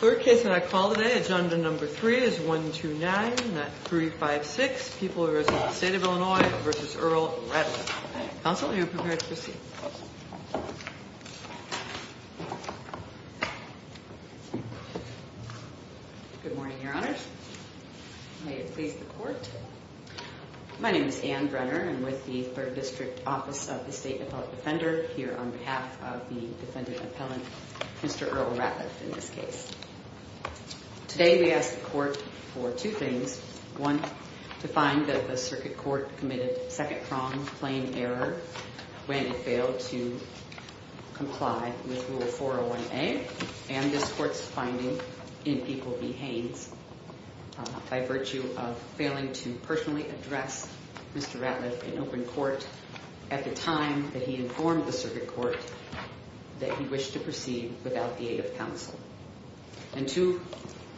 Third case that I call today, agenda number three is 129-356, people who reside in the state of Illinois v. Earl Ratliff. Counsel, you are prepared to proceed. Good morning, your honors. May it please the court. My name is Ann Brenner. I'm with the Third District Office of the State Appellate Defender here on behalf of the defendant appellant, Mr. Earl Ratliff, in this case. Today we ask the court for two things. One, to find that the circuit court committed second-pronged plain error when it failed to comply with Rule 401A and this court's finding in people v. Haynes by virtue of failing to personally address Mr. Ratliff in open court at the time that he informed the circuit court that he wished to proceed without the aid of counsel. And two,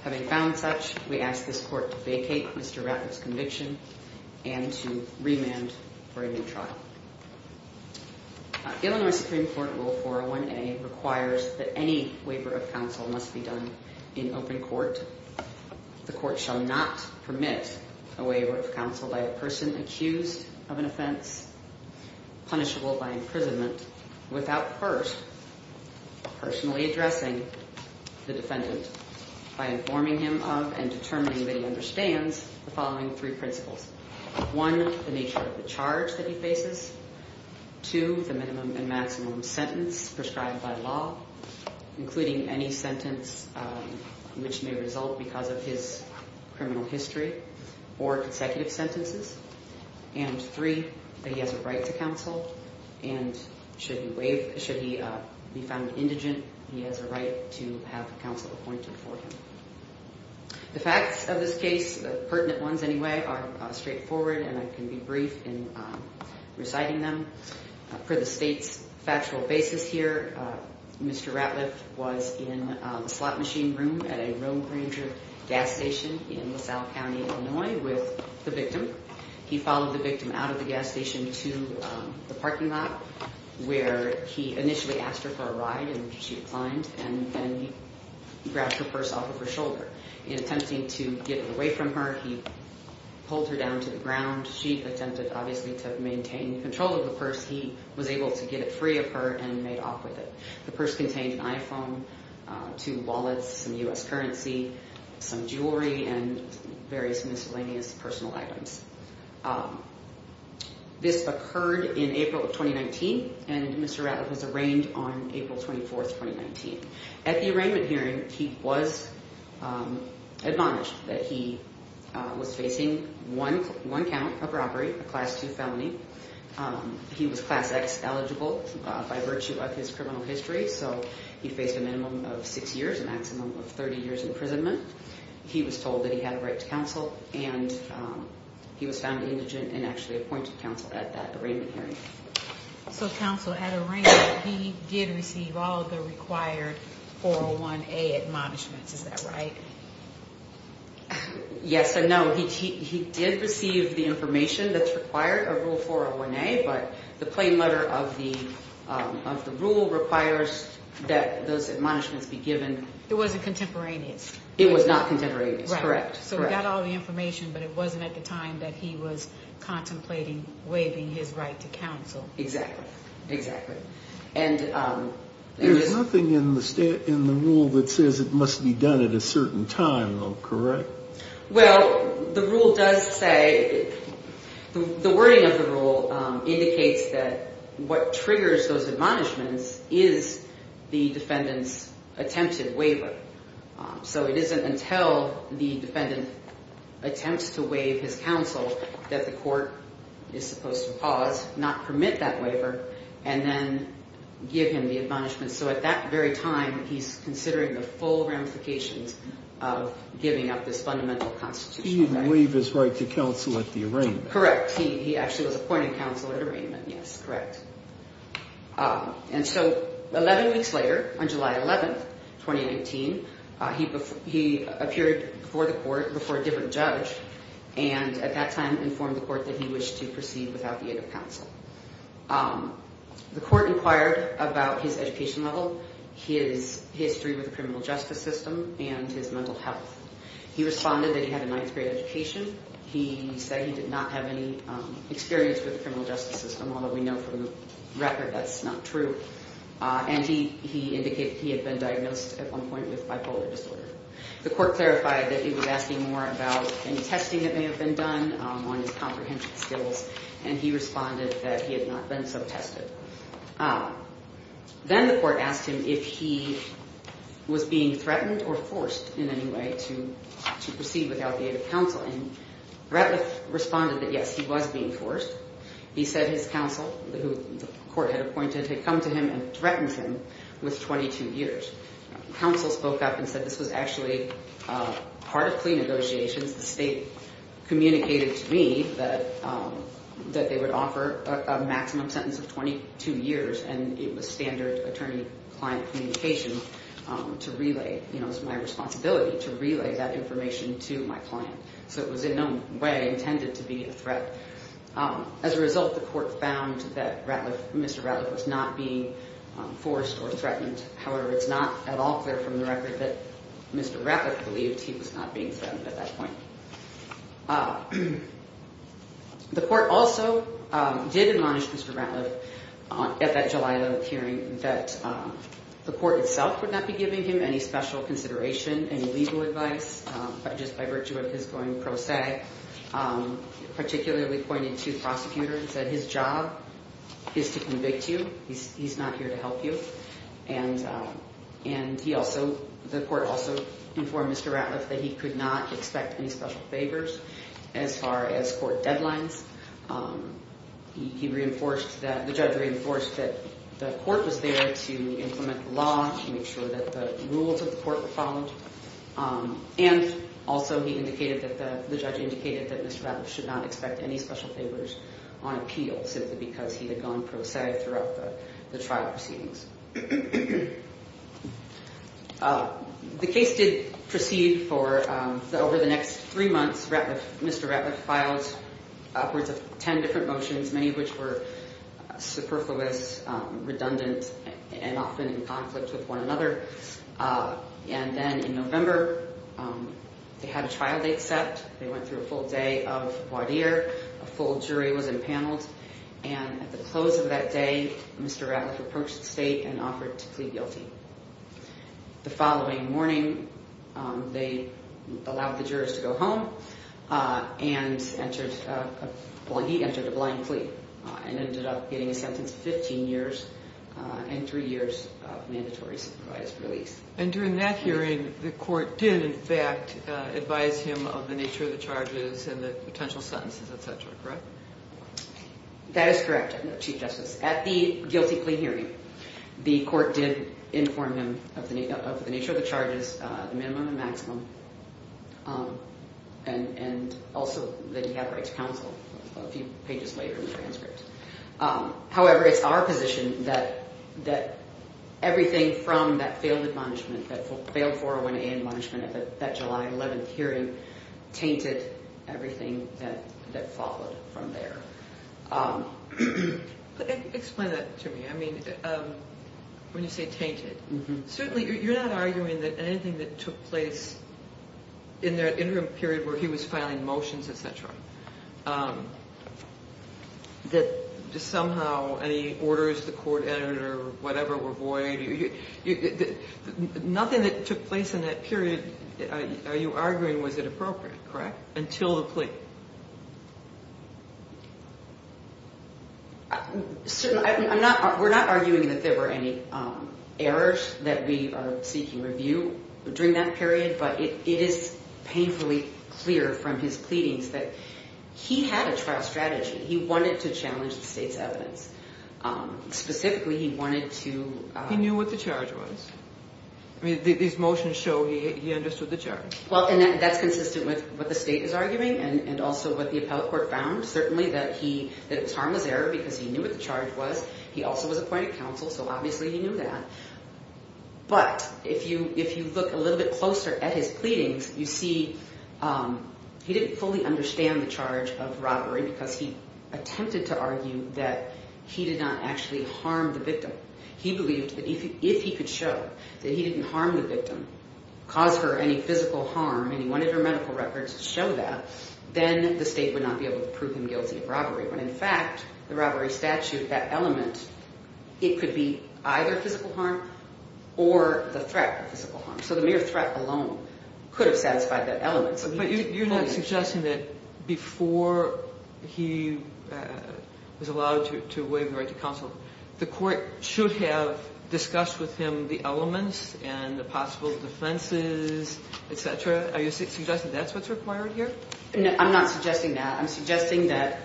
having found such, we ask this court to vacate Mr. Ratliff's conviction and to remand for a new trial. Illinois Supreme Court Rule 401A requires that any waiver of counsel must be done in open court. The court shall not permit a waiver of counsel by a person accused of an offense punishable by imprisonment without first personally addressing the defendant by informing him of and determining that he understands the following three principles. One, the nature of the charge that he faces. Two, the minimum and maximum sentence prescribed by law, including any sentence which may result because of his criminal history or consecutive sentences. And three, that he has a right to counsel and should he be found indigent, he has a right to have counsel appointed for him. The facts of this case, pertinent ones anyway, are straightforward and I can be brief in reciting them. Per the state's factual basis here, Mr. Ratliff was in a slot machine room at a Roan Granger gas station in LaSalle County, Illinois with the victim. He followed the victim out of the gas station to the parking lot where he initially asked her for a ride and she declined and then he grabbed her purse off of her shoulder. In attempting to get away from her, he pulled her down to the ground. She attempted, obviously, to maintain control of the purse. He was able to get it free of her and made off with it. The purse contained an iPhone, two wallets, some U.S. currency, some jewelry, and various miscellaneous personal items. This occurred in April of 2019 and Mr. Ratliff was arraigned on April 24th, 2019. At the arraignment hearing, he was admonished that he was facing one count of robbery, a Class 2 felony. He was Class X eligible by virtue of his criminal history, so he faced a minimum of six years, a maximum of 30 years imprisonment. He was told that he had a right to counsel and he was found indigent and actually appointed counsel at that arraignment hearing. So counsel, at arraignment, he did receive all of the required 401A admonishments, is that right? Yes and no. He did receive the information that's required of Rule 401A, but the plain letter of the rule requires that those admonishments be given. It wasn't contemporaneous. It was not contemporaneous, correct. So he got all the information, but it wasn't at the time that he was contemplating waiving his right to counsel. Exactly, exactly. There's nothing in the rule that says it must be done at a certain time, though, correct? Well, the rule does say, the wording of the rule indicates that what triggers those admonishments is the defendant's attempted waiver. So it isn't until the defendant attempts to waive his counsel that the court is supposed to pause, not permit that waiver, and then give him the admonishments. So at that very time, he's considering the full ramifications of giving up this fundamental constitutional right. He didn't waive his right to counsel at the arraignment. Correct. He actually was appointed counsel at arraignment, yes, correct. And so 11 weeks later, on July 11, 2019, he appeared before the court, before a different judge, and at that time informed the court that he wished to proceed without the aid of counsel. The court inquired about his education level, his history with the criminal justice system, and his mental health. He responded that he had a ninth grade education. He said he did not have any experience with the criminal justice system, although we know from the record that's not true. And he indicated he had been diagnosed at one point with bipolar disorder. The court clarified that he was asking more about any testing that may have been done on his comprehensive skills, and he responded that he had not been sub-tested. Then the court asked him if he was being threatened or forced in any way to proceed without the aid of counsel, and Ratliff responded that yes, he was being forced. He said his counsel, who the court had appointed, had come to him and threatened him with 22 years. Counsel spoke up and said this was actually part of plea negotiations. The state communicated to me that they would offer a maximum sentence of 22 years, and it was standard attorney-client communication to relay, you know, it was my responsibility to relay that information to my client. So it was in no way intended to be a threat. As a result, the court found that Ratliff, Mr. Ratliff, was not being forced or threatened. However, it's not at all clear from the record that Mr. Ratliff believed he was not being threatened at that point. The court also did admonish Mr. Ratliff at that July 11 hearing that the court itself would not be giving him any special consideration, any legal advice, just by virtue of his going pro se. Particularly pointed to the prosecutor and said his job is to convict you. He's not here to help you. And he also, the court also informed Mr. Ratliff that he could not expect any special favors as far as court deadlines. He reinforced that, the judge reinforced that the court was there to implement the law and make sure that the rules of the court were followed. And also he indicated that the judge indicated that Mr. Ratliff should not expect any special favors on appeal simply because he had gone pro se throughout the trial proceedings. The case did proceed for over the next three months. Mr. Ratliff filed upwards of 10 different motions, many of which were superfluous, redundant, and often in conflict with one another. And then in November, they had a trial date set. They went through a full day of voir dire. A full jury was impaneled. And at the close of that day, Mr. Ratliff approached the state and offered to plead guilty. The following morning, they allowed the jurors to go home. And he entered a blind plea and ended up getting a sentence of 15 years and three years of mandatory supervised release. And during that hearing, the court did, in fact, advise him of the nature of the charges and the potential sentences, et cetera, correct? That is correct, Chief Justice. At the guilty plea hearing, the court did inform him of the nature of the charges, the minimum and maximum, and also that he had rights counsel a few pages later in the transcript. However, it's our position that everything from that failed admonishment, that failed 401A admonishment at that July 11th hearing tainted everything that followed from there. Explain that to me. I mean, when you say tainted, certainly you're not arguing that anything that took place in that interim period where he was filing motions, et cetera, that just somehow any orders the court entered or whatever were void, nothing that took place in that period are you arguing was inappropriate, correct, until the plea? We're not arguing that there were any errors that we are seeking review during that period, but it is painfully clear from his pleadings that he had a trial strategy. He wanted to challenge the state's evidence. Specifically, he wanted to... He knew what the charge was. These motions show he understood the charge. Well, and that's consistent with what the state is arguing and also what the appellate court found, certainly that it was harmless error because he knew what the charge was. He also was appointed counsel, so obviously he knew that. But if you look a little bit closer at his pleadings, you see he didn't fully understand the charge of robbery because he attempted to argue that he did not actually harm the victim. He believed that if he could show that he didn't harm the victim, cause her any physical harm, and he wanted her medical records to show that, then the state would not be able to prove him guilty of robbery. When, in fact, the robbery statute, that element, it could be either physical harm or the threat of physical harm. So the mere threat alone could have satisfied that element. But you're not suggesting that before he was allowed to waive the right to counsel, the court should have discussed with him the elements and the possible defenses, etc.? Are you suggesting that's what's required here? No, I'm not suggesting that. I'm suggesting that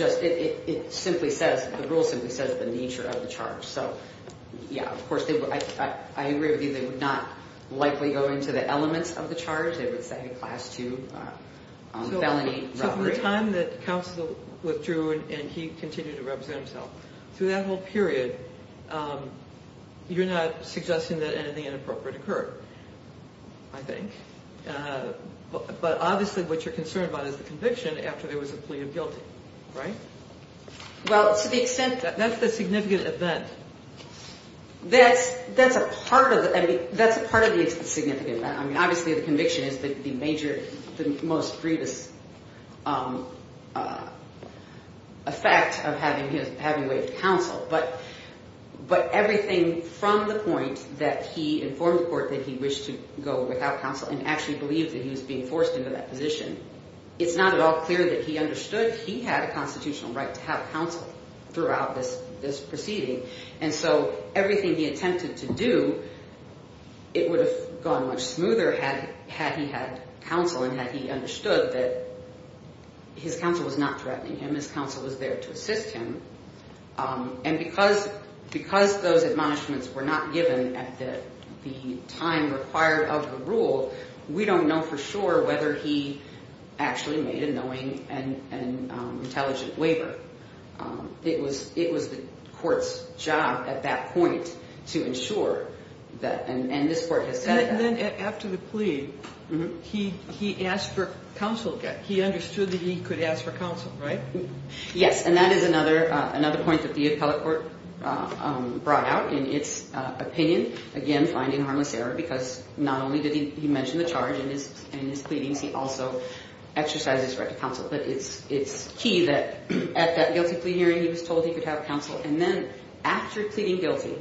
it simply says, the rule simply says the nature of the charge. So, yeah, of course, I agree with you. They would not likely go into the elements of the charge. They would say a class 2 felony robbery. So from the time that counsel withdrew and he continued to represent himself, through that whole period, you're not suggesting that anything inappropriate occurred, I think? But obviously, what you're concerned about is the conviction after there was a plea of guilty, right? Well, to the extent... That's the significant event. That's a part of the significant event. I mean, obviously, the conviction is the major, the most grievous effect of having waived counsel. But everything from the point that he informed the court that he wished to go without counsel and actually believed that he was being forced into that position, it's not at all clear that he understood he had a constitutional right to have counsel throughout this proceeding. And so everything he attempted to do, it would have gone much smoother had he had counsel and had he understood that his counsel was not threatening him. His counsel was there to assist him. And because those admonishments were not given at the time required of the rule, we don't know for sure whether he actually made a knowing and intelligent waiver. It was the court's job at that point to ensure that... And this court has said that. And then after the plea, he asked for counsel. He understood that he could ask for counsel, right? Yes. And that is another point that the appellate court brought out in its opinion, again, finding harmless error, because not only did he mention the charge in his pleadings, he also exercised his right to counsel. But it's key that at that guilty plea hearing, he was told he could have counsel. And then after pleading guilty,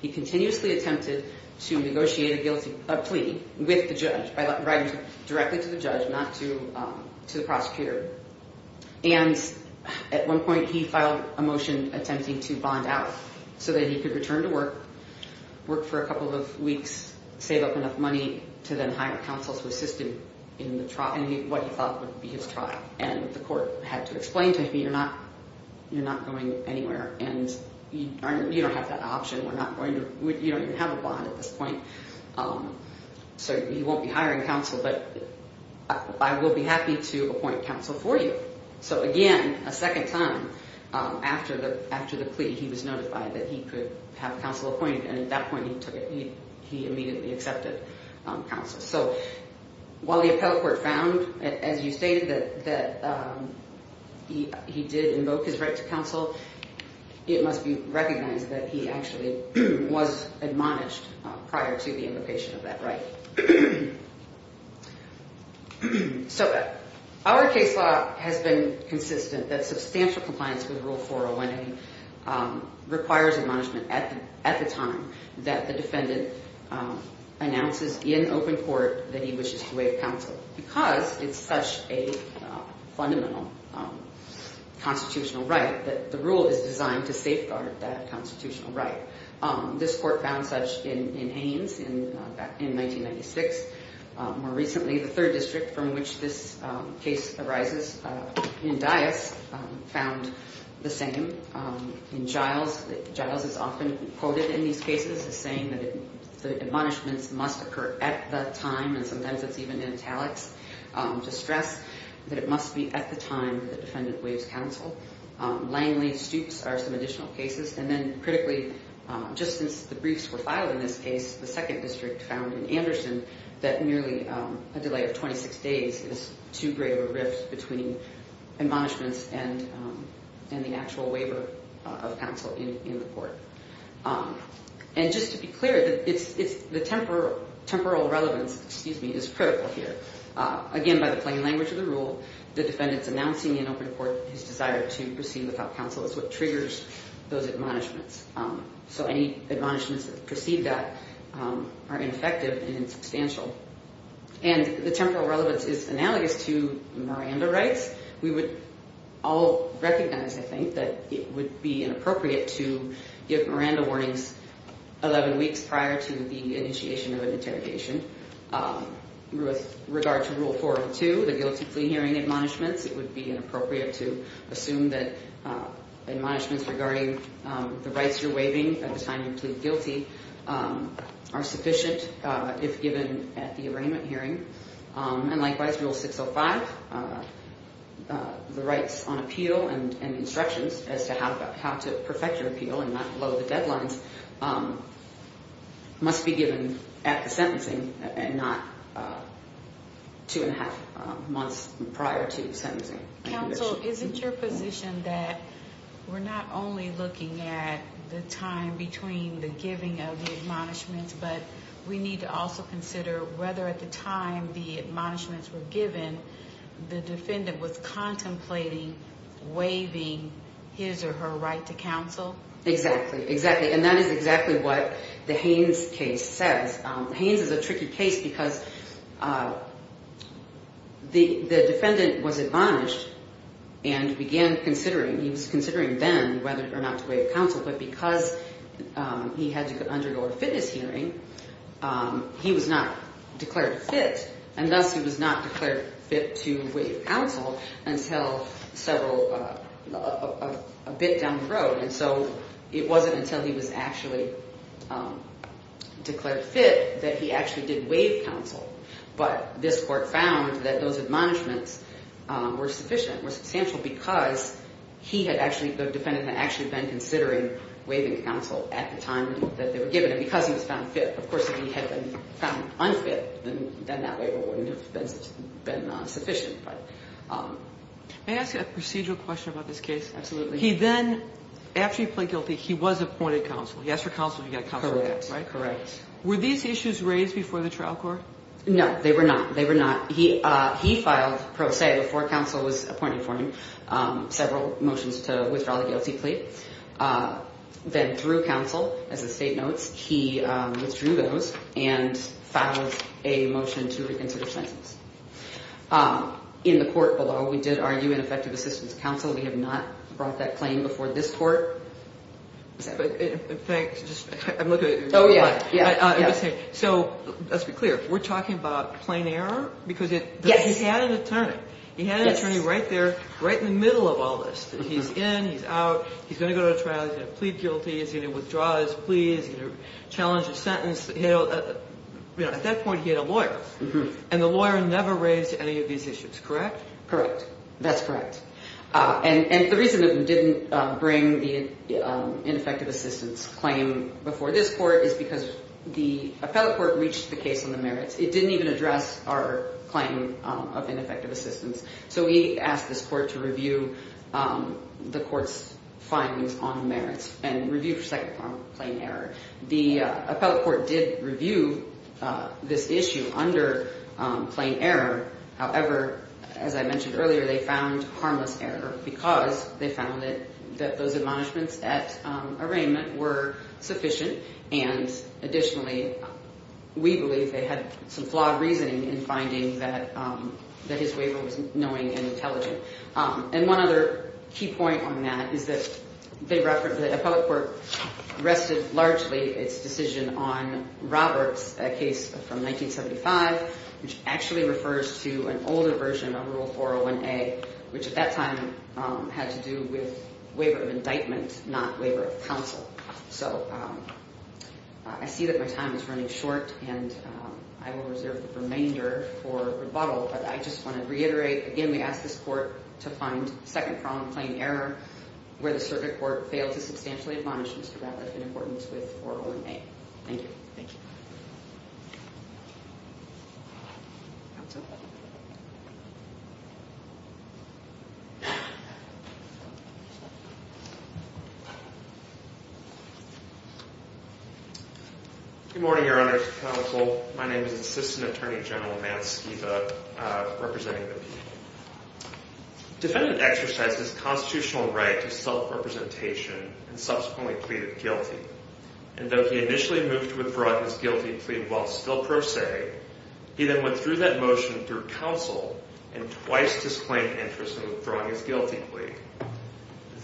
he continuously attempted to negotiate a plea with the judge by writing directly to the judge, not to the prosecutor. And at one point, he filed a motion attempting to bond out so that he could return to work, work for a couple of weeks, save up enough money to then hire counsel to assist him in what he thought would be his trial. And the court had to explain to him, you're not going anywhere, and you don't have that option. You don't even have a bond at this point, so you won't be hiring counsel. But I will be happy to appoint counsel for you. So again, a second time, after the plea, he was notified that he could have counsel appointed. And at that point, he took it. He immediately accepted counsel. So while the appellate court found, as you stated, that he did invoke his right to counsel, it must be recognized that he actually was admonished prior to the invocation of that right. So our case law has been consistent that substantial compliance with Rule 401A requires admonishment at the time that the defendant announces in open court that he wishes to waive counsel because it's such a fundamental constitutional right that the rule is designed to safeguard that constitutional right. This court found such in Ains in 1996. More recently, the third district from which this case arises, in Dyess, found the same. In Giles, Giles is often quoted in these cases as saying that the admonishments must occur at the time, and sometimes it's even in italics, to stress that it must be at the time that the defendant waives counsel. Langley, Stoops are some additional cases. And then critically, just since the briefs were filed in this case, the second district found in Anderson that merely a delay of 26 days is too great a rift between admonishments and the actual waiver of counsel in the court. And just to be clear, the temporal relevance, excuse me, is critical here. Again, by the plain language of the rule, the defendant's announcing in open court his desire to proceed without counsel is what triggers those admonishments. So any admonishments that precede that are ineffective and insubstantial. And the temporal relevance is analogous to Miranda rights. We would all recognize, I think, that it would be inappropriate to give Miranda warnings 11 weeks prior to the initiation of an interrogation. With regard to Rule 402, the guilty plea hearing admonishments, it would be inappropriate to assume that admonishments regarding the rights you're waiving at the time you plead guilty are sufficient if given at the arraignment hearing. And likewise, Rule 605, the rights on appeal and instructions as to how to perfect your appeal and not blow the deadlines, must be given at the sentencing and not two and a half months prior to sentencing. Counsel, is it your position that we're not only looking at the time between the giving of the admonishments, but we need to also consider whether at the time the admonishments were given, the defendant was contemplating waiving his or her right to counsel? Exactly, exactly. And that is exactly what the Haynes case says. Haynes is a tricky case because the defendant was admonished and began considering, he was considering then whether or not to waive counsel, but because he had to undergo a fitness hearing, he was not declared fit, and thus he was not declared fit to waive counsel until several, a bit down the road. And so it wasn't until he was actually declared fit that he actually did waive counsel, but this court found that those admonishments were sufficient, were substantial because he had actually, the defendant had actually been considering waiving counsel at the time that they were given, and because he was found fit. Of course, if he had been found unfit, then that waiver wouldn't have been sufficient. May I ask you a procedural question about this case? Absolutely. He then, after he pleaded guilty, he was appointed counsel. He asked for counsel, he got counsel. Correct, correct. Were these issues raised before the trial court? No, they were not. They were not. He filed pro se before counsel was appointed for him, several motions to withdraw the guilty plea. Then through counsel, as the state notes, he withdrew those and filed a motion to reconsider sentences. In the court below, we did argue an effective assistance to counsel. We have not brought that claim before this court. Let's be clear. We're talking about plain error? Yes. Because he had an attorney. He had an attorney right there, right in the middle of all this. He's in, he's out, he's going to go to a trial, he's going to plead guilty, he's going to withdraw his pleas, he's going to challenge a sentence. At that point, he had a lawyer, and the lawyer never raised any of these issues, correct? Correct. That's correct. And the reason it didn't bring the ineffective assistance claim before this court is because the appellate court reached the case on the merits. It didn't even address our claim of ineffective assistance. So we asked this court to review the court's findings on the merits and review for second form plain error. The appellate court did review this issue under plain error. However, as I mentioned earlier, they found harmless error because they found that those admonishments at arraignment were sufficient. And additionally, we believe they had some flawed reasoning in finding that his waiver was annoying and intelligent. And one other key point on that is that the appellate court rested largely its decision on Roberts' case from 1975, which actually refers to an older version of Rule 401A, which at that time had to do with waiver of indictment, not waiver of counsel. So I see that my time is running short, and I will reserve the remainder for rebuttal. But I just want to reiterate, again, we asked this court to find second form plain error where the circuit court failed to substantially admonish Mr. Roberts in accordance with 401A. Thank you. Thank you. Counsel? Good morning, Your Honor, Counsel. My name is Assistant Attorney General Matt Skiba, representing the people. Defendant exercised his constitutional right to self-representation and subsequently pleaded guilty. And though he initially moved to withdraw his guilty plea while still pro se, he then went through that motion through counsel and twice disclaimed interest in withdrawing his guilty plea.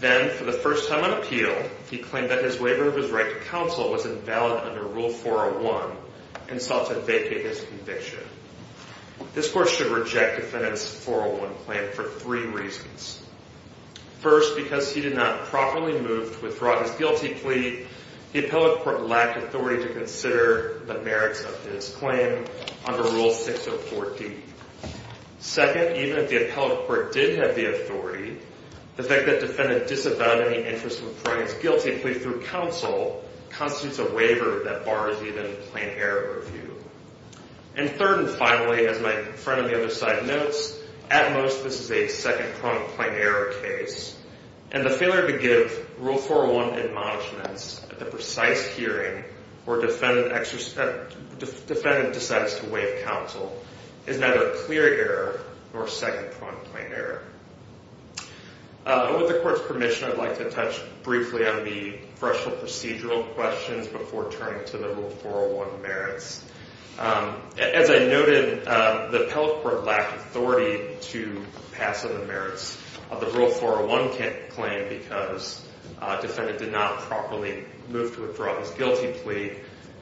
Then, for the first time on appeal, he claimed that his waiver of his right to counsel was invalid under Rule 401 and sought to vacate his conviction. This court should reject Defendant's 401 claim for three reasons. First, because he did not properly move to withdraw his guilty plea, the appellate court lacked authority to consider the merits of his claim under Rule 604D. Second, even if the appellate court did have the authority, the fact that Defendant disavowed any interest in withdrawing his guilty plea through counsel constitutes a waiver that bars even plain error review. And third and finally, as my friend on the other side notes, at most this is a second-pronged plain error case. And the failure to give Rule 401 admonishments at the precise hearing where Defendant decides to waive counsel is neither a clear error nor a second-pronged plain error. With the court's permission, I'd like to touch briefly on the threshold procedural questions before turning to the Rule 401 merits. As I noted, the appellate court lacked authority to pass on the merits of the Rule 401 claim because Defendant did not properly move to withdraw his guilty plea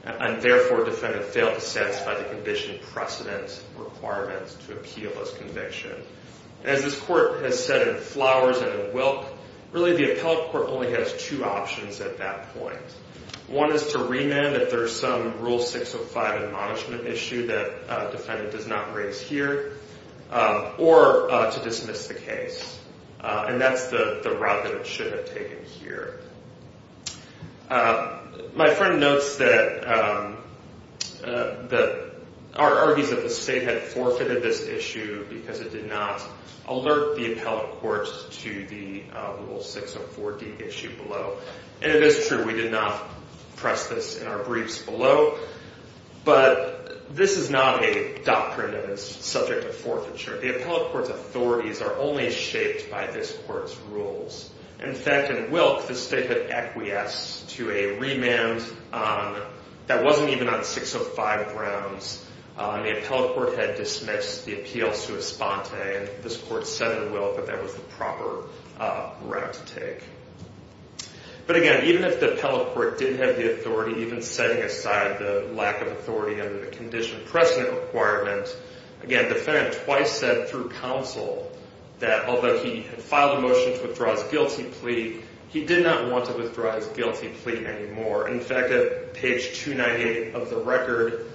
and therefore Defendant failed to satisfy the conviction precedent requirements to appeal this conviction. As this court has said in flowers and in wilk, really the appellate court only has two options at that point. One is to remand if there's some Rule 605 admonishment issue that Defendant does not raise here or to dismiss the case. And that's the route that it should have taken here. My friend notes that, argues that the state had forfeited this issue because it did not alert the appellate court to the Rule 604D issue below. And it is true, we did not press this in our briefs below. But this is not a doctrine that is subject to forfeiture. The appellate court's authorities are only shaped by this court's rules. In fact, in wilk, the state had acquiesced to a remand that wasn't even on 605 grounds. The appellate court had dismissed the appeal sui sponte and this court said in wilk that that was the proper route to take. But again, even if the appellate court did have the authority, even setting aside the lack of authority under the condition precedent requirement, again, Defendant twice said through counsel that although he had filed a motion to withdraw his guilty plea, he did not want to withdraw his guilty plea anymore. In fact, at page 298 of the record,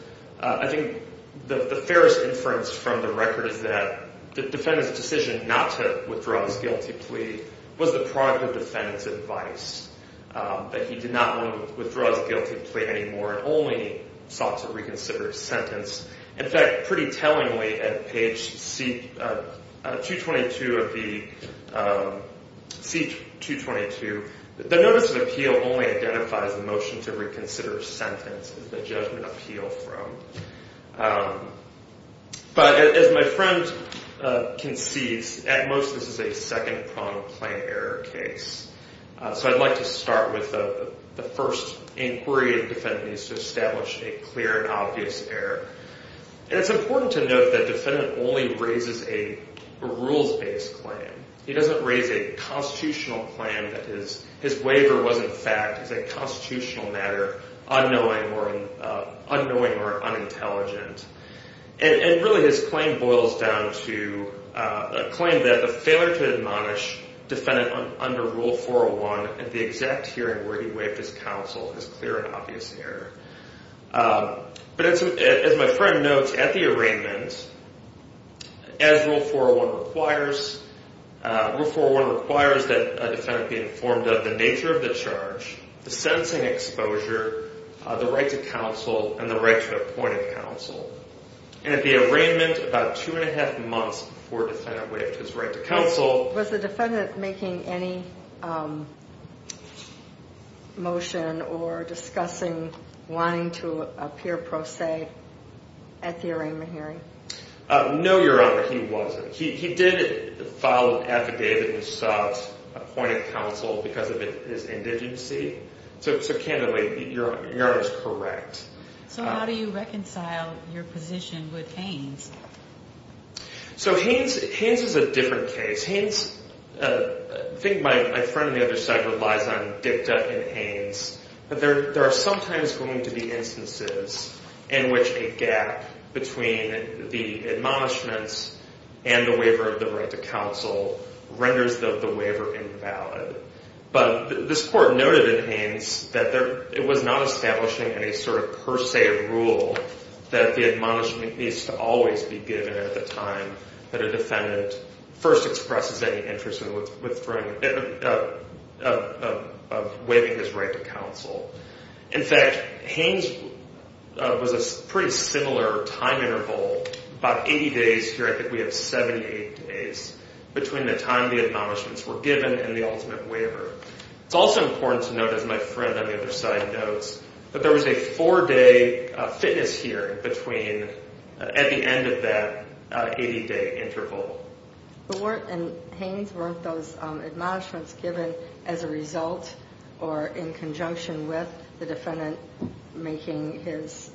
I think the fairest inference from the record is that the Defendant's decision not to withdraw his guilty plea was the product of Defendant's advice. That he did not want to withdraw his guilty plea anymore and only sought to reconsider his sentence. In fact, pretty tellingly at page 222 of the C-222, the notice of appeal only identifies the motion to reconsider sentence as the judgment appeal from. But as my friend concedes, at most this is a second-pronged plain error case. So I'd like to start with the first inquiry that Defendant needs to establish a clear and obvious error. And it's important to note that Defendant only raises a rules-based claim. He doesn't raise a constitutional claim that his waiver was in fact a constitutional matter, unknowing or unintelligent. And really his claim boils down to a claim that the failure to admonish Defendant under Rule 401 at the exact hearing where he waived his counsel is clear and obvious error. But as my friend notes, at the arraignment, as Rule 401 requires, Rule 401 requires that Defendant be informed of the nature of the charge, the sentencing exposure, the right to counsel, and the right to appoint a counsel. And at the arraignment about two and a half months before Defendant waived his right to counsel. Was the Defendant making any motion or discussing wanting to appear pro se at the arraignment hearing? No, Your Honor, he wasn't. He did file an affidavit and sought appointed counsel because of his indigency. So, candidly, Your Honor is correct. So how do you reconcile your position with Haines? So Haines is a different case. Haines, I think my friend on the other side relies on dicta in Haines, but there are sometimes going to be instances in which a gap between the admonishments and the waiver of the right to counsel renders the waiver invalid. But this Court noted in Haines that it was not establishing any sort of per se rule that the admonishment needs to always be given at the time that a Defendant first expresses any interest in waiving his right to counsel. In fact, Haines was a pretty similar time interval, about 80 days here. I think we have 78 days between the time the admonishments were given and the ultimate waiver. It's also important to note, as my friend on the other side notes, that there was a four-day fitness hearing between at the end of that 80-day interval. But weren't, in Haines, weren't those admonishments given as a result or in conjunction with the Defendant making his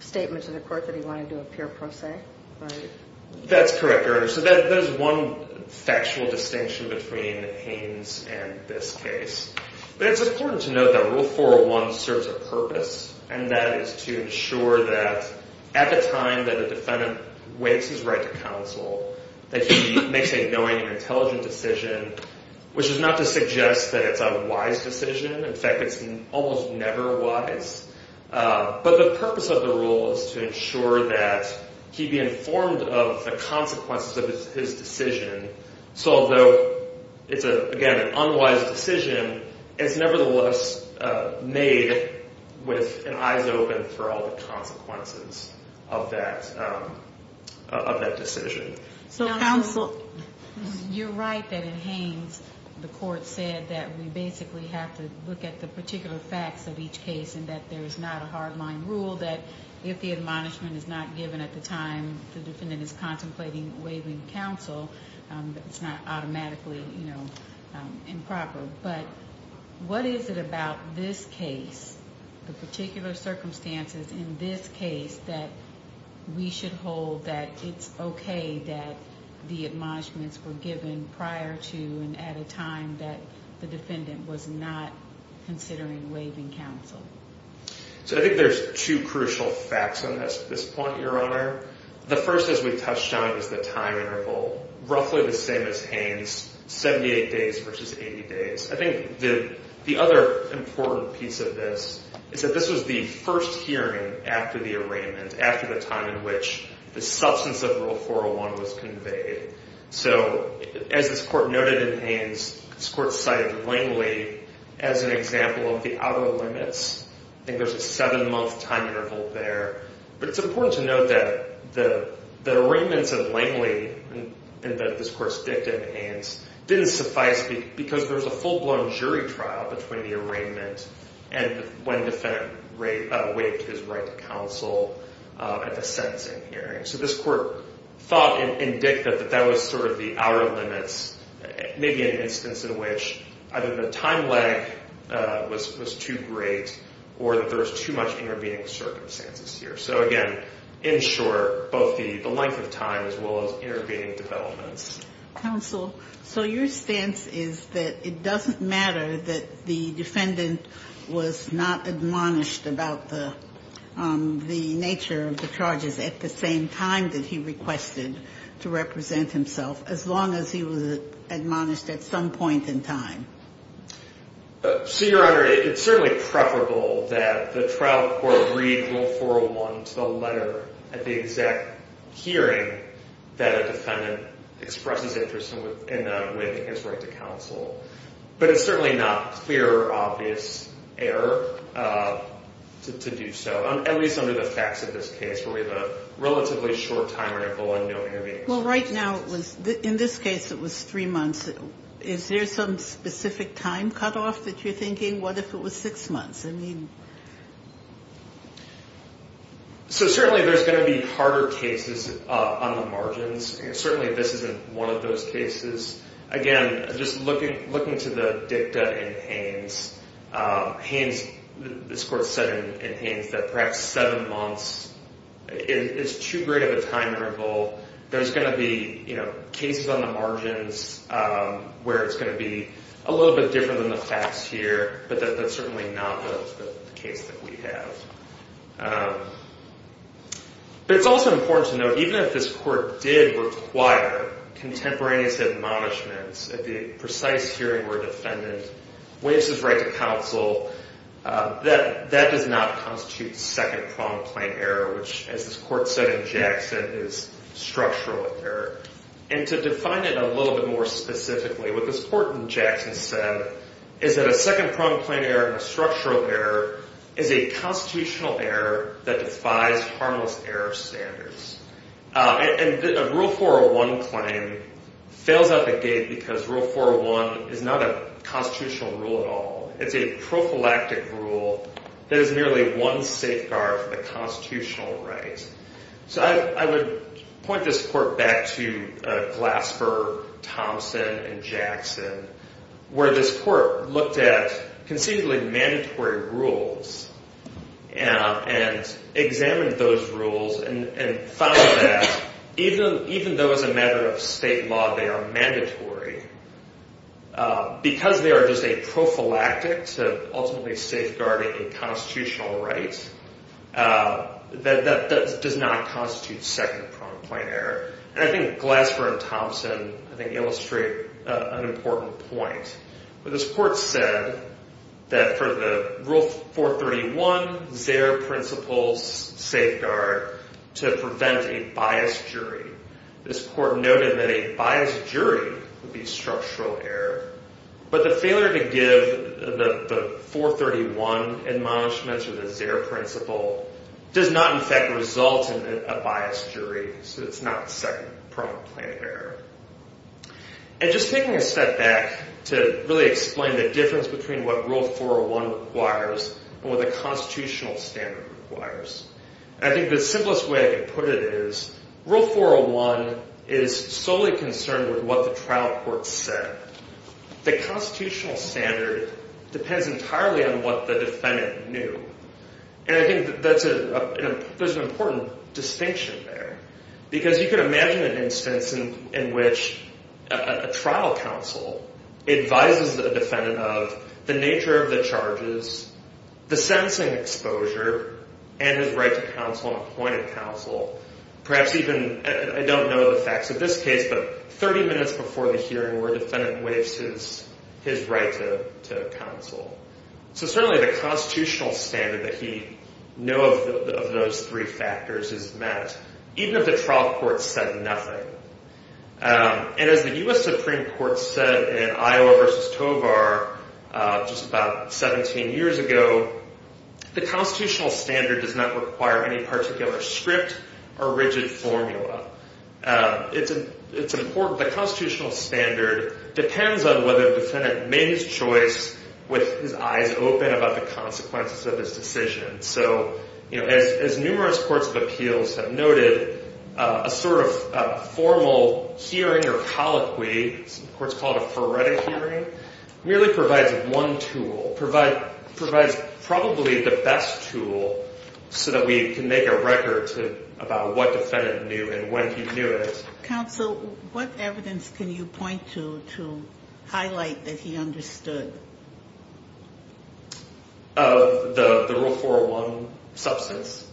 statement to the Court that he wanted to do a pure pro se? That's correct, Your Honor. So there's one factual distinction between Haines and this case. It's important to note that Rule 401 serves a purpose, and that is to ensure that at the time that a Defendant waives his right to counsel that he makes a knowing and intelligent decision, which is not to suggest that it's a wise decision. In fact, it's almost never wise. But the purpose of the rule is to ensure that he be informed of the consequences of his decision. So although it's, again, an unwise decision, it's nevertheless made with eyes open for all the consequences of that decision. You're right that in Haines, the Court said that we basically have to look at the particular facts of each case and that there's not a hard-line rule that if the admonishment is not given at the time the Defendant is contemplating waiving counsel, it's not automatically improper. But what is it about this case, the particular circumstances in this case, that we should hold that it's okay that the admonishments were given prior to and at a time that the Defendant was not considering waiving counsel? So I think there's two crucial facts on this point, Your Honor. The first, as we touched on, is the time interval, roughly the same as Haines, 78 days versus 80 days. I think the other important piece of this is that this was the first hearing after the arraignment, after the time in which the substance of Rule 401 was conveyed. So as this Court noted in Haines, this Court cited Langley as an example of the outer limits. I think there's a seven-month time interval there. But it's important to note that the arraignments of Langley in this Court's dictum in Haines didn't suffice because there was a full-blown jury trial between the arraignment and when the Defendant waived his right to counsel at the sentencing hearing. So this Court thought and dicted that that was sort of the outer limits, maybe an instance in which either the time lag was too great or that there was too much intervening circumstances here. So again, in short, both the length of time as well as intervening developments. Counsel, so your stance is that it doesn't matter that the Defendant was not admonished about the nature of the charges at the same time that he requested to represent himself, as long as he was admonished at some point in time? So, Your Honor, it's certainly preferable that the trial court read Rule 401 to the letter at the exact hearing that a Defendant expresses interest in waiving his right to counsel. But it's certainly not clear or obvious error to do so, at least under the facts of this case where we have a relatively short time interval and no intervening circumstances. Well, right now, in this case, it was three months. Is there some specific time cutoff that you're thinking? What if it was six months? So certainly there's going to be harder cases on the margins. Certainly this isn't one of those cases. Again, just looking to the dicta in Haynes, this court said in Haynes that perhaps seven months is too great of a time interval. There's going to be cases on the margins where it's going to be a little bit different than the facts here, but that's certainly not the case that we have. But it's also important to note, even if this court did require contemporaneous admonishments at the precise hearing where a Defendant waives his right to counsel, that does not constitute second-pronged plain error, which, as this court said in Jackson, is structural error. And to define it a little bit more specifically, what this court in Jackson said is that a second-pronged plain error and a structural error is a constitutional error that defies harmless error standards. And a Rule 401 claim fails out the gate because Rule 401 is not a constitutional rule at all. It's a prophylactic rule that is merely one safeguard for the constitutional right. So I would point this court back to Glasper, Thompson, and Jackson, where this court looked at conceivably mandatory rules and examined those rules and found that even though as a matter of state law they are mandatory, because they are just a prophylactic to ultimately safeguarding a constitutional right, that does not constitute second-pronged plain error. And I think Glasper and Thompson, I think, illustrate an important point. This court said that for the Rule 431, there are principles safeguard to prevent a biased jury. This court noted that a biased jury would be structural error, but the failure to give the 431 admonishments or the Zer principle does not, in fact, result in a biased jury, so it's not second-pronged plain error. And just taking a step back to really explain the difference between what Rule 401 requires and what the constitutional standard requires, I think the simplest way I can put it is Rule 401 is solely concerned with what the trial court said. The constitutional standard depends entirely on what the defendant knew, and I think there's an important distinction there, because you can imagine an instance in which a trial counsel advises a defendant of the nature of the charges, the sentencing exposure, and his right to counsel and appointed counsel. Perhaps even, I don't know the facts of this case, but 30 minutes before the hearing where a defendant waives his right to counsel. So certainly the constitutional standard that he knew of those three factors is met, even if the trial court said nothing. And as the U.S. Supreme Court said in Iowa v. Tovar just about 17 years ago, the constitutional standard does not require any particular script or rigid formula. It's important. The constitutional standard depends on whether the defendant made his choice with his eyes open about the consequences of his decision. So as numerous courts of appeals have noted, a sort of formal hearing or colloquy, courts call it a phoretic hearing, really provides one tool, provides probably the best tool so that we can make a record about what the defendant knew and when he knew it. Counsel, what evidence can you point to to highlight that he understood? Of the Rule 401 substance.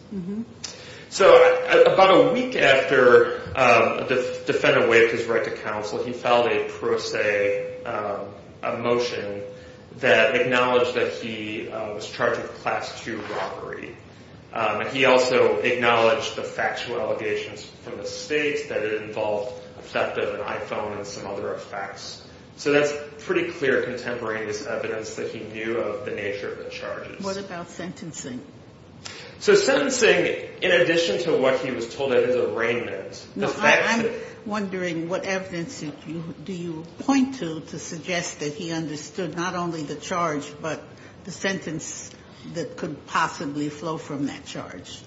So about a week after a defendant waived his right to counsel, he filed a pro se motion that acknowledged that he was charged with a Class II robbery. He also acknowledged the factual allegations from the state that it involved the theft of an iPhone and some other effects. So that's pretty clear contemporaneous evidence that he knew of the nature of the charges. What about sentencing? So sentencing, in addition to what he was told at his arraignment. I'm wondering what evidence do you point to to suggest that he understood not only the charge, but the sentence that could possibly flow from that charge?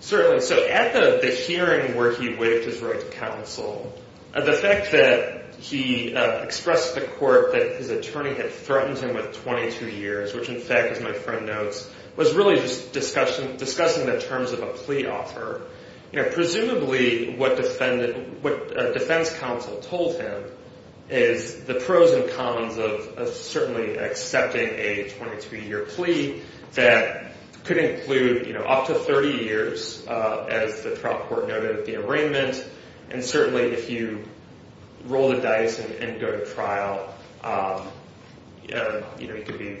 Certainly. So at the hearing where he waived his right to counsel, the fact that he expressed to court that his attorney had threatened him with 22 years, which in fact, as my friend notes, was really just discussing the terms of a plea offer. Presumably what a defense counsel told him is the pros and cons of certainly accepting a 22-year plea that could include up to 30 years, as the trial court noted at the arraignment. And certainly if you roll the dice and go to trial, you could be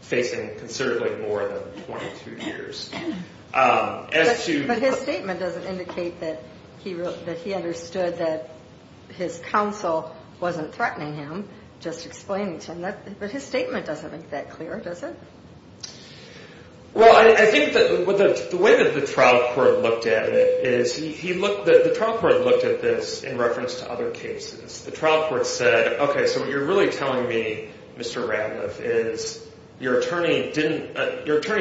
facing considerably more than 22 years. But his statement doesn't indicate that he understood that his counsel wasn't threatening him, just explaining to him. But his statement doesn't make that clear, does it? Well, I think that the way that the trial court looked at it is the trial court looked at this in reference to other cases. The trial court said, OK, so what you're really telling me, Mr. Ratliff, is your attorney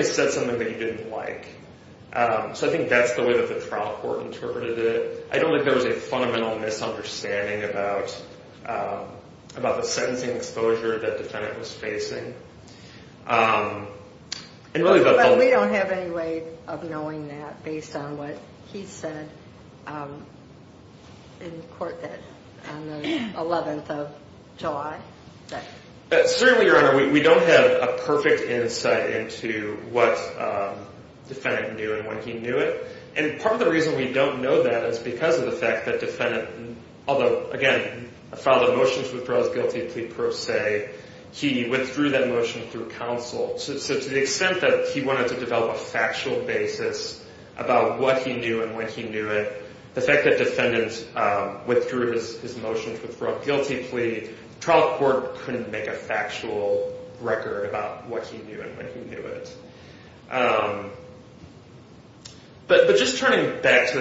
said something that you didn't like. So I think that's the way that the trial court interpreted it. I don't think there was a fundamental misunderstanding about the sentencing exposure that the defendant was facing. But we don't have any way of knowing that based on what he said in court on the 11th of July. Certainly, Your Honor, we don't have a perfect insight into what the defendant knew and when he knew it. And part of the reason we don't know that is because of the fact that the defendant, although, again, filed a motion to withdraw his guilty plea per se, he withdrew that motion through counsel. So to the extent that he wanted to develop a factual basis about what he knew and when he knew it, the fact that the defendant withdrew his motion to withdraw a guilty plea, the trial court couldn't make a factual record about what he knew and when he knew it. But just turning back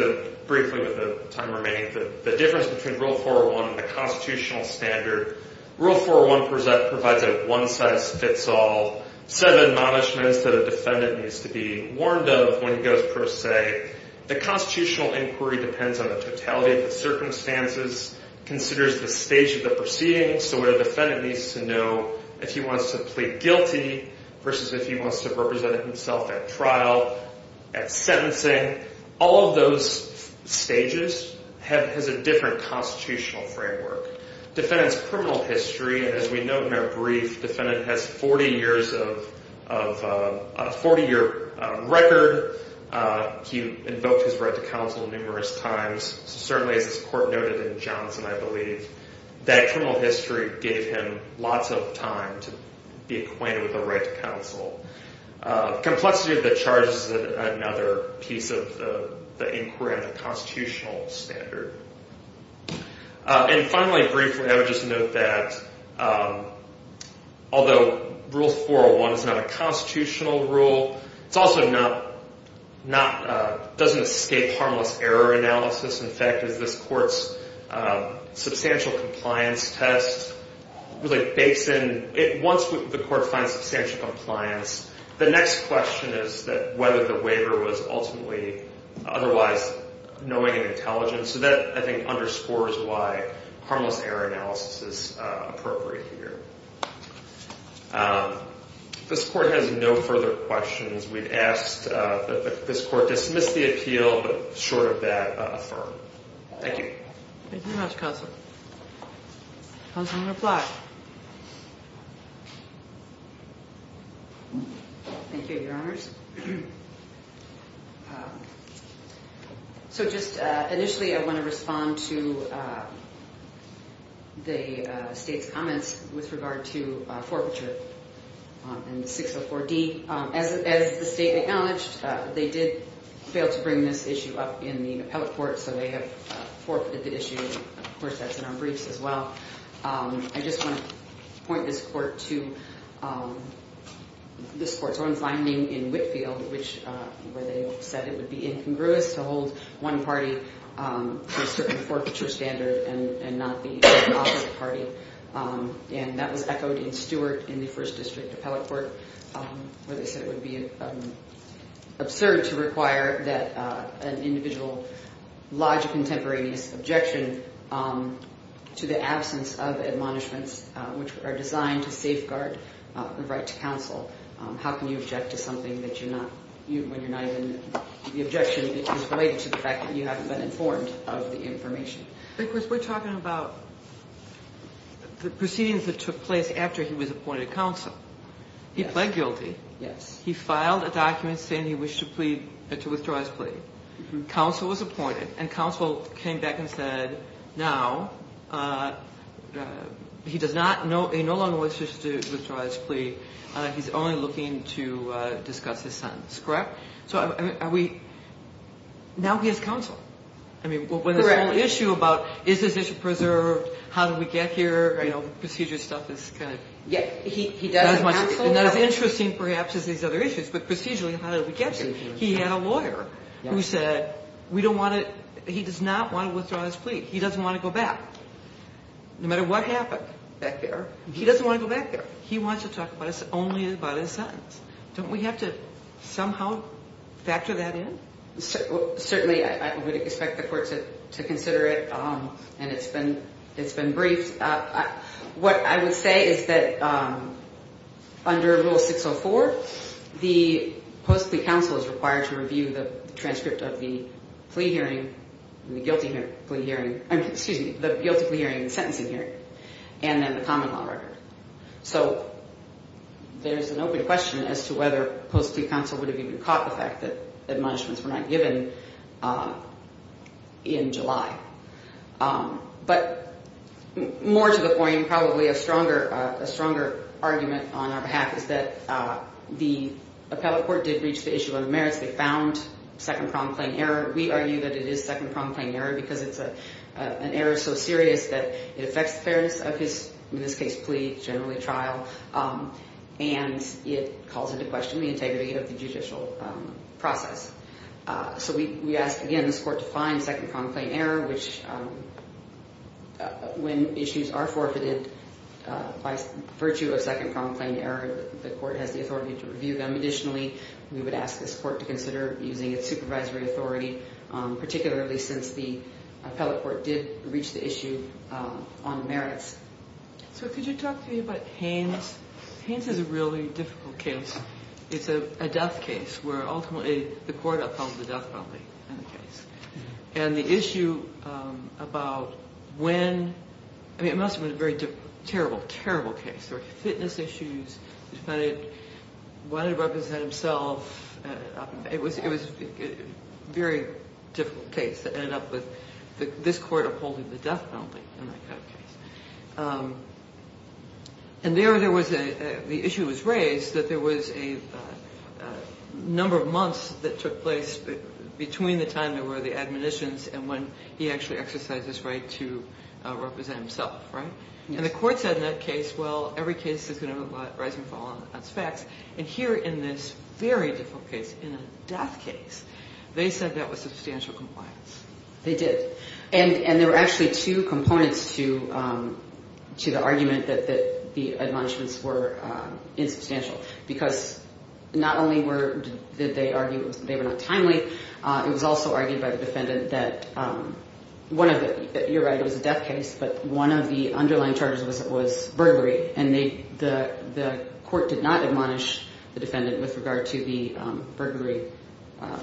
briefly with the time remaining, the difference between Rule 401 and the constitutional standard, Rule 401 provides a one-size-fits-all set of admonishments that a defendant needs to be warned of when he goes per se. The constitutional inquiry depends on the totality of the circumstances, considers the stage of the proceedings, so what a defendant needs to know if he wants to plead guilty versus if he wants to represent himself at trial, at sentencing. All of those stages has a different constitutional framework. Defendant's criminal history, as we note in our brief, the defendant has a 40-year record. He invoked his right to counsel numerous times. Certainly, as this court noted in Johnson, I believe, that criminal history gave him lots of time to be acquainted with the right to counsel. Complexity of the charges is another piece of the inquiry on the constitutional standard. And finally, briefly, I would just note that although Rule 401 is not a constitutional rule, it also doesn't escape harmless error analysis. In fact, as this court's substantial compliance test really bakes in, once the court finds substantial compliance, the next question is whether the waiver was ultimately otherwise knowing and intelligent. So that, I think, underscores why harmless error analysis is appropriate here. This court has no further questions. We've asked that this court dismiss the appeal, but short of that, affirm. Thank you. Thank you very much, counsel. Counsel, you may reply. Thank you, Your Honors. So just initially, I want to respond to the state's comments with regard to forfeiture in 604D. As the state acknowledged, they did fail to bring this issue up in the appellate court, so they have forfeited the issue. Of course, that's in our briefs as well. I just want to point this court to this court's own finding in Whitfield, where they said it would be incongruous to hold one party to a certain forfeiture standard and not the opposite party. And that was echoed in Stewart in the First District Appellate Court, where they said it would be absurd to require that an individual lodge a contemporaneous objection to the absence of admonishments, which are designed to safeguard the right to counsel. How can you object to something when you're not even the objection is related to the fact that you haven't been informed of the information? Because we're talking about the proceedings that took place after he was appointed counsel. He pled guilty. Yes. He filed a document saying he wished to withdraw his plea. Counsel was appointed, and counsel came back and said, now he no longer wishes to withdraw his plea. He's only looking to discuss his sentence. Correct? So now he has counsel. Correct. The whole issue about is this issue preserved, how did we get here, you know, procedure stuff is kind of not as interesting perhaps as these other issues. But procedurally, how did we get here? He had a lawyer who said we don't want to he does not want to withdraw his plea. He doesn't want to go back. No matter what happened. Back there. He doesn't want to go back there. He wants to talk only about his sentence. Don't we have to somehow factor that in? Certainly, I would expect the court to consider it, and it's been briefed. What I would say is that under Rule 604, the post-plea counsel is required to review the transcript of the plea hearing, the guilty plea hearing, excuse me, the guilty plea hearing and sentencing hearing, and then the common law record. So there's an open question as to whether post-plea counsel would have even caught the fact that admonishments were not given in July. But more to the point, probably a stronger argument on our behalf is that the appellate court did reach the issue of merits. They found second-pronged plain error. We argue that it is second-pronged plain error because it's an error so serious that it affects the fairness of his, in this case, plea, generally trial, and it calls into question the integrity of the judicial process. So we ask, again, this court to find second-pronged plain error, which when issues are forfeited by virtue of second-pronged plain error, the court has the authority to review them. Additionally, we would ask this court to consider using its supervisory authority, particularly since the appellate court did reach the issue on merits. So could you talk to me about Haynes? Haynes is a really difficult case. It's a death case where ultimately the court upheld the death penalty in the case. And the issue about when ñ I mean, it must have been a very terrible, terrible case. There were fitness issues. The defendant wanted to represent himself. It was a very difficult case to end up with this court upholding the death penalty in that kind of case. And there there was a ñ the issue was raised that there was a number of months that took place between the time there were the admonitions and when he actually exercised his right to represent himself, right? And the court said in that case, well, every case is going to have a rising and falling on specs. And here in this very difficult case, in a death case, they said that was substantial compliance. They did. And there were actually two components to the argument that the admonishments were insubstantial, because not only did they argue they were not timely, it was also argued by the defendant that one of the ñ you're right, it was a death case, but one of the underlying charges was burglary. And the court did not admonish the defendant with regard to the burglary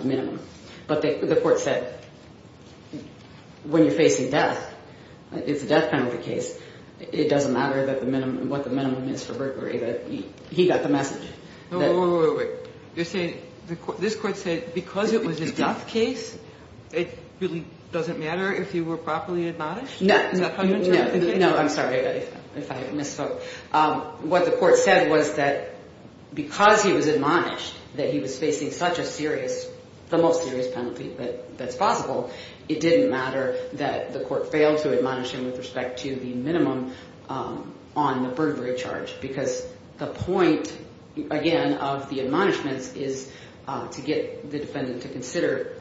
minimum. But the court said when you're facing death, it's a death penalty case, it doesn't matter what the minimum is for burglary. He got the message. Wait, wait, wait. You're saying this court said because it was a death case, it really doesn't matter if you were properly admonished? No. Is that how you interpret the case? No, I'm sorry if I misspoke. What the court said was that because he was admonished that he was facing such a serious, the most serious penalty that's possible, it didn't matter that the court failed to admonish him with respect to the minimum on the burglary charge, because the point, again, of the admonishments is to get the defendant to consider,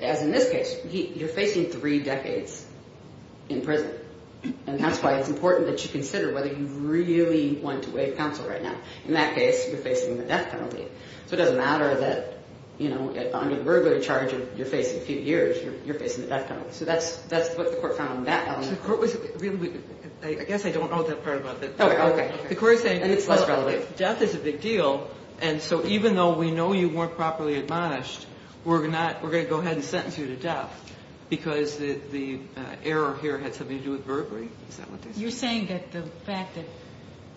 as in this case, you're facing three decades in prison. And that's why it's important that you consider whether you really want to waive counsel right now. In that case, you're facing the death penalty. So it doesn't matter that under the burglary charge you're facing a few years, you're facing the death penalty. So that's what the court found on that element. I guess I don't know that part about the court. Okay. The court is saying death is a big deal. And so even though we know you weren't properly admonished, we're going to go ahead and sentence you to death because the error here had something to do with burglary. Is that what they said? You're saying that the fact that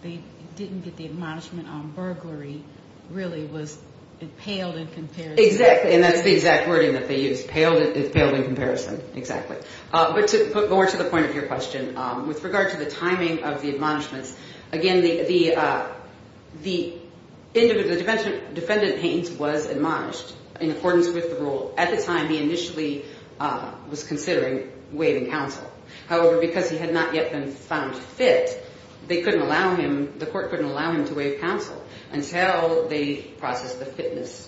they didn't get the admonishment on burglary really was impaled in comparison. Exactly. And that's the exact wording that they used, impaled in comparison. Exactly. But to put more to the point of your question, with regard to the timing of the admonishments, at the time he initially was considering waiving counsel. However, because he had not yet been found fit, they couldn't allow him, the court couldn't allow him to waive counsel until they processed the fitness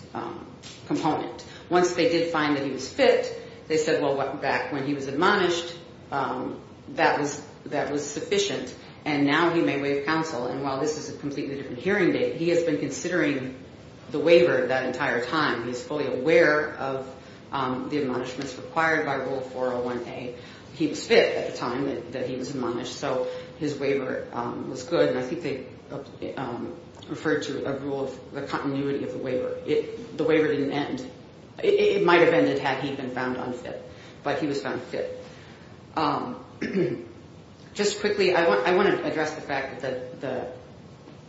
component. Once they did find that he was fit, they said, well, back when he was admonished, that was sufficient, and now he may waive counsel. And while this is a completely different hearing date, he has been considering the waiver that entire time. He's fully aware of the admonishments required by Rule 401A. He was fit at the time that he was admonished, so his waiver was good, and I think they referred to a rule of the continuity of the waiver. The waiver didn't end. It might have ended had he been found unfit, but he was found fit. Just quickly, I want to address the fact that the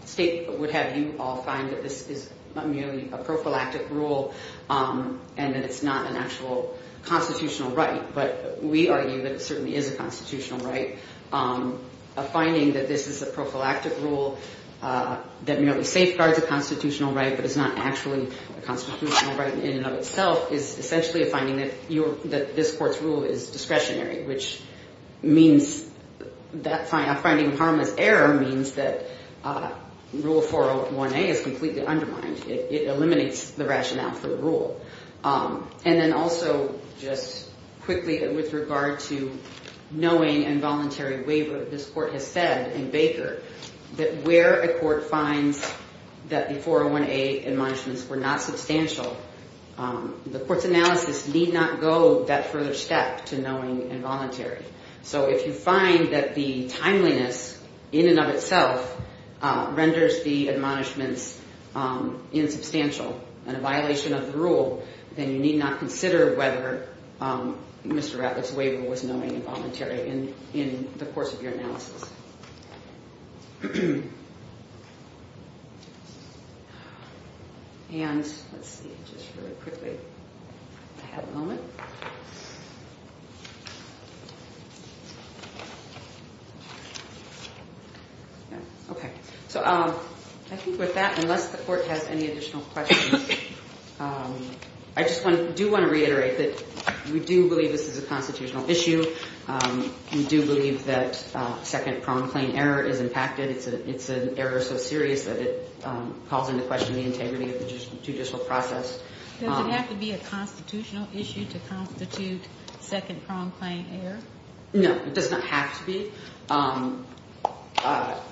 state would have you all find that this is merely a prophylactic rule and that it's not an actual constitutional right, but we argue that it certainly is a constitutional right. A finding that this is a prophylactic rule that merely safeguards a constitutional right but is not actually a constitutional right in and of itself is essentially a finding that this court's rule is discretionary, which means that finding harmless error means that Rule 401A is completely undermined. It eliminates the rationale for the rule. And then also, just quickly, with regard to knowing involuntary waiver, this court has said in Baker that where a court finds that the 401A admonishments were not substantial, the court's analysis need not go that further step to knowing involuntary. So if you find that the timeliness in and of itself renders the admonishments insubstantial and a violation of the rule, then you need not consider whether Mr. Ratliff's waiver was knowing involuntary in the course of your analysis. And let's see, just really quickly, if I have a moment. Okay. So I think with that, unless the court has any additional questions, I just do want to reiterate that we do believe this is a constitutional issue. We do believe that second-pronged claim error is impacted. It's an error so serious that it calls into question the integrity of the judicial process. Does it have to be a constitutional issue to constitute second-pronged claim error? No, it does not have to be.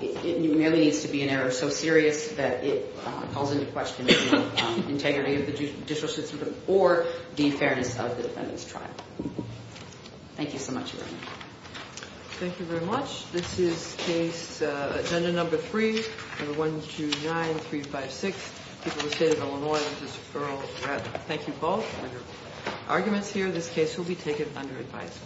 It merely needs to be an error so serious that it calls into question the integrity of the judicial system or the fairness of the defendant's trial. Thank you so much, Your Honor. Thank you very much. This is case agenda number three, number 129356, People of the State of Illinois v. Earl Ratliff. Thank you both for your arguments here. This case will be taken under advisory.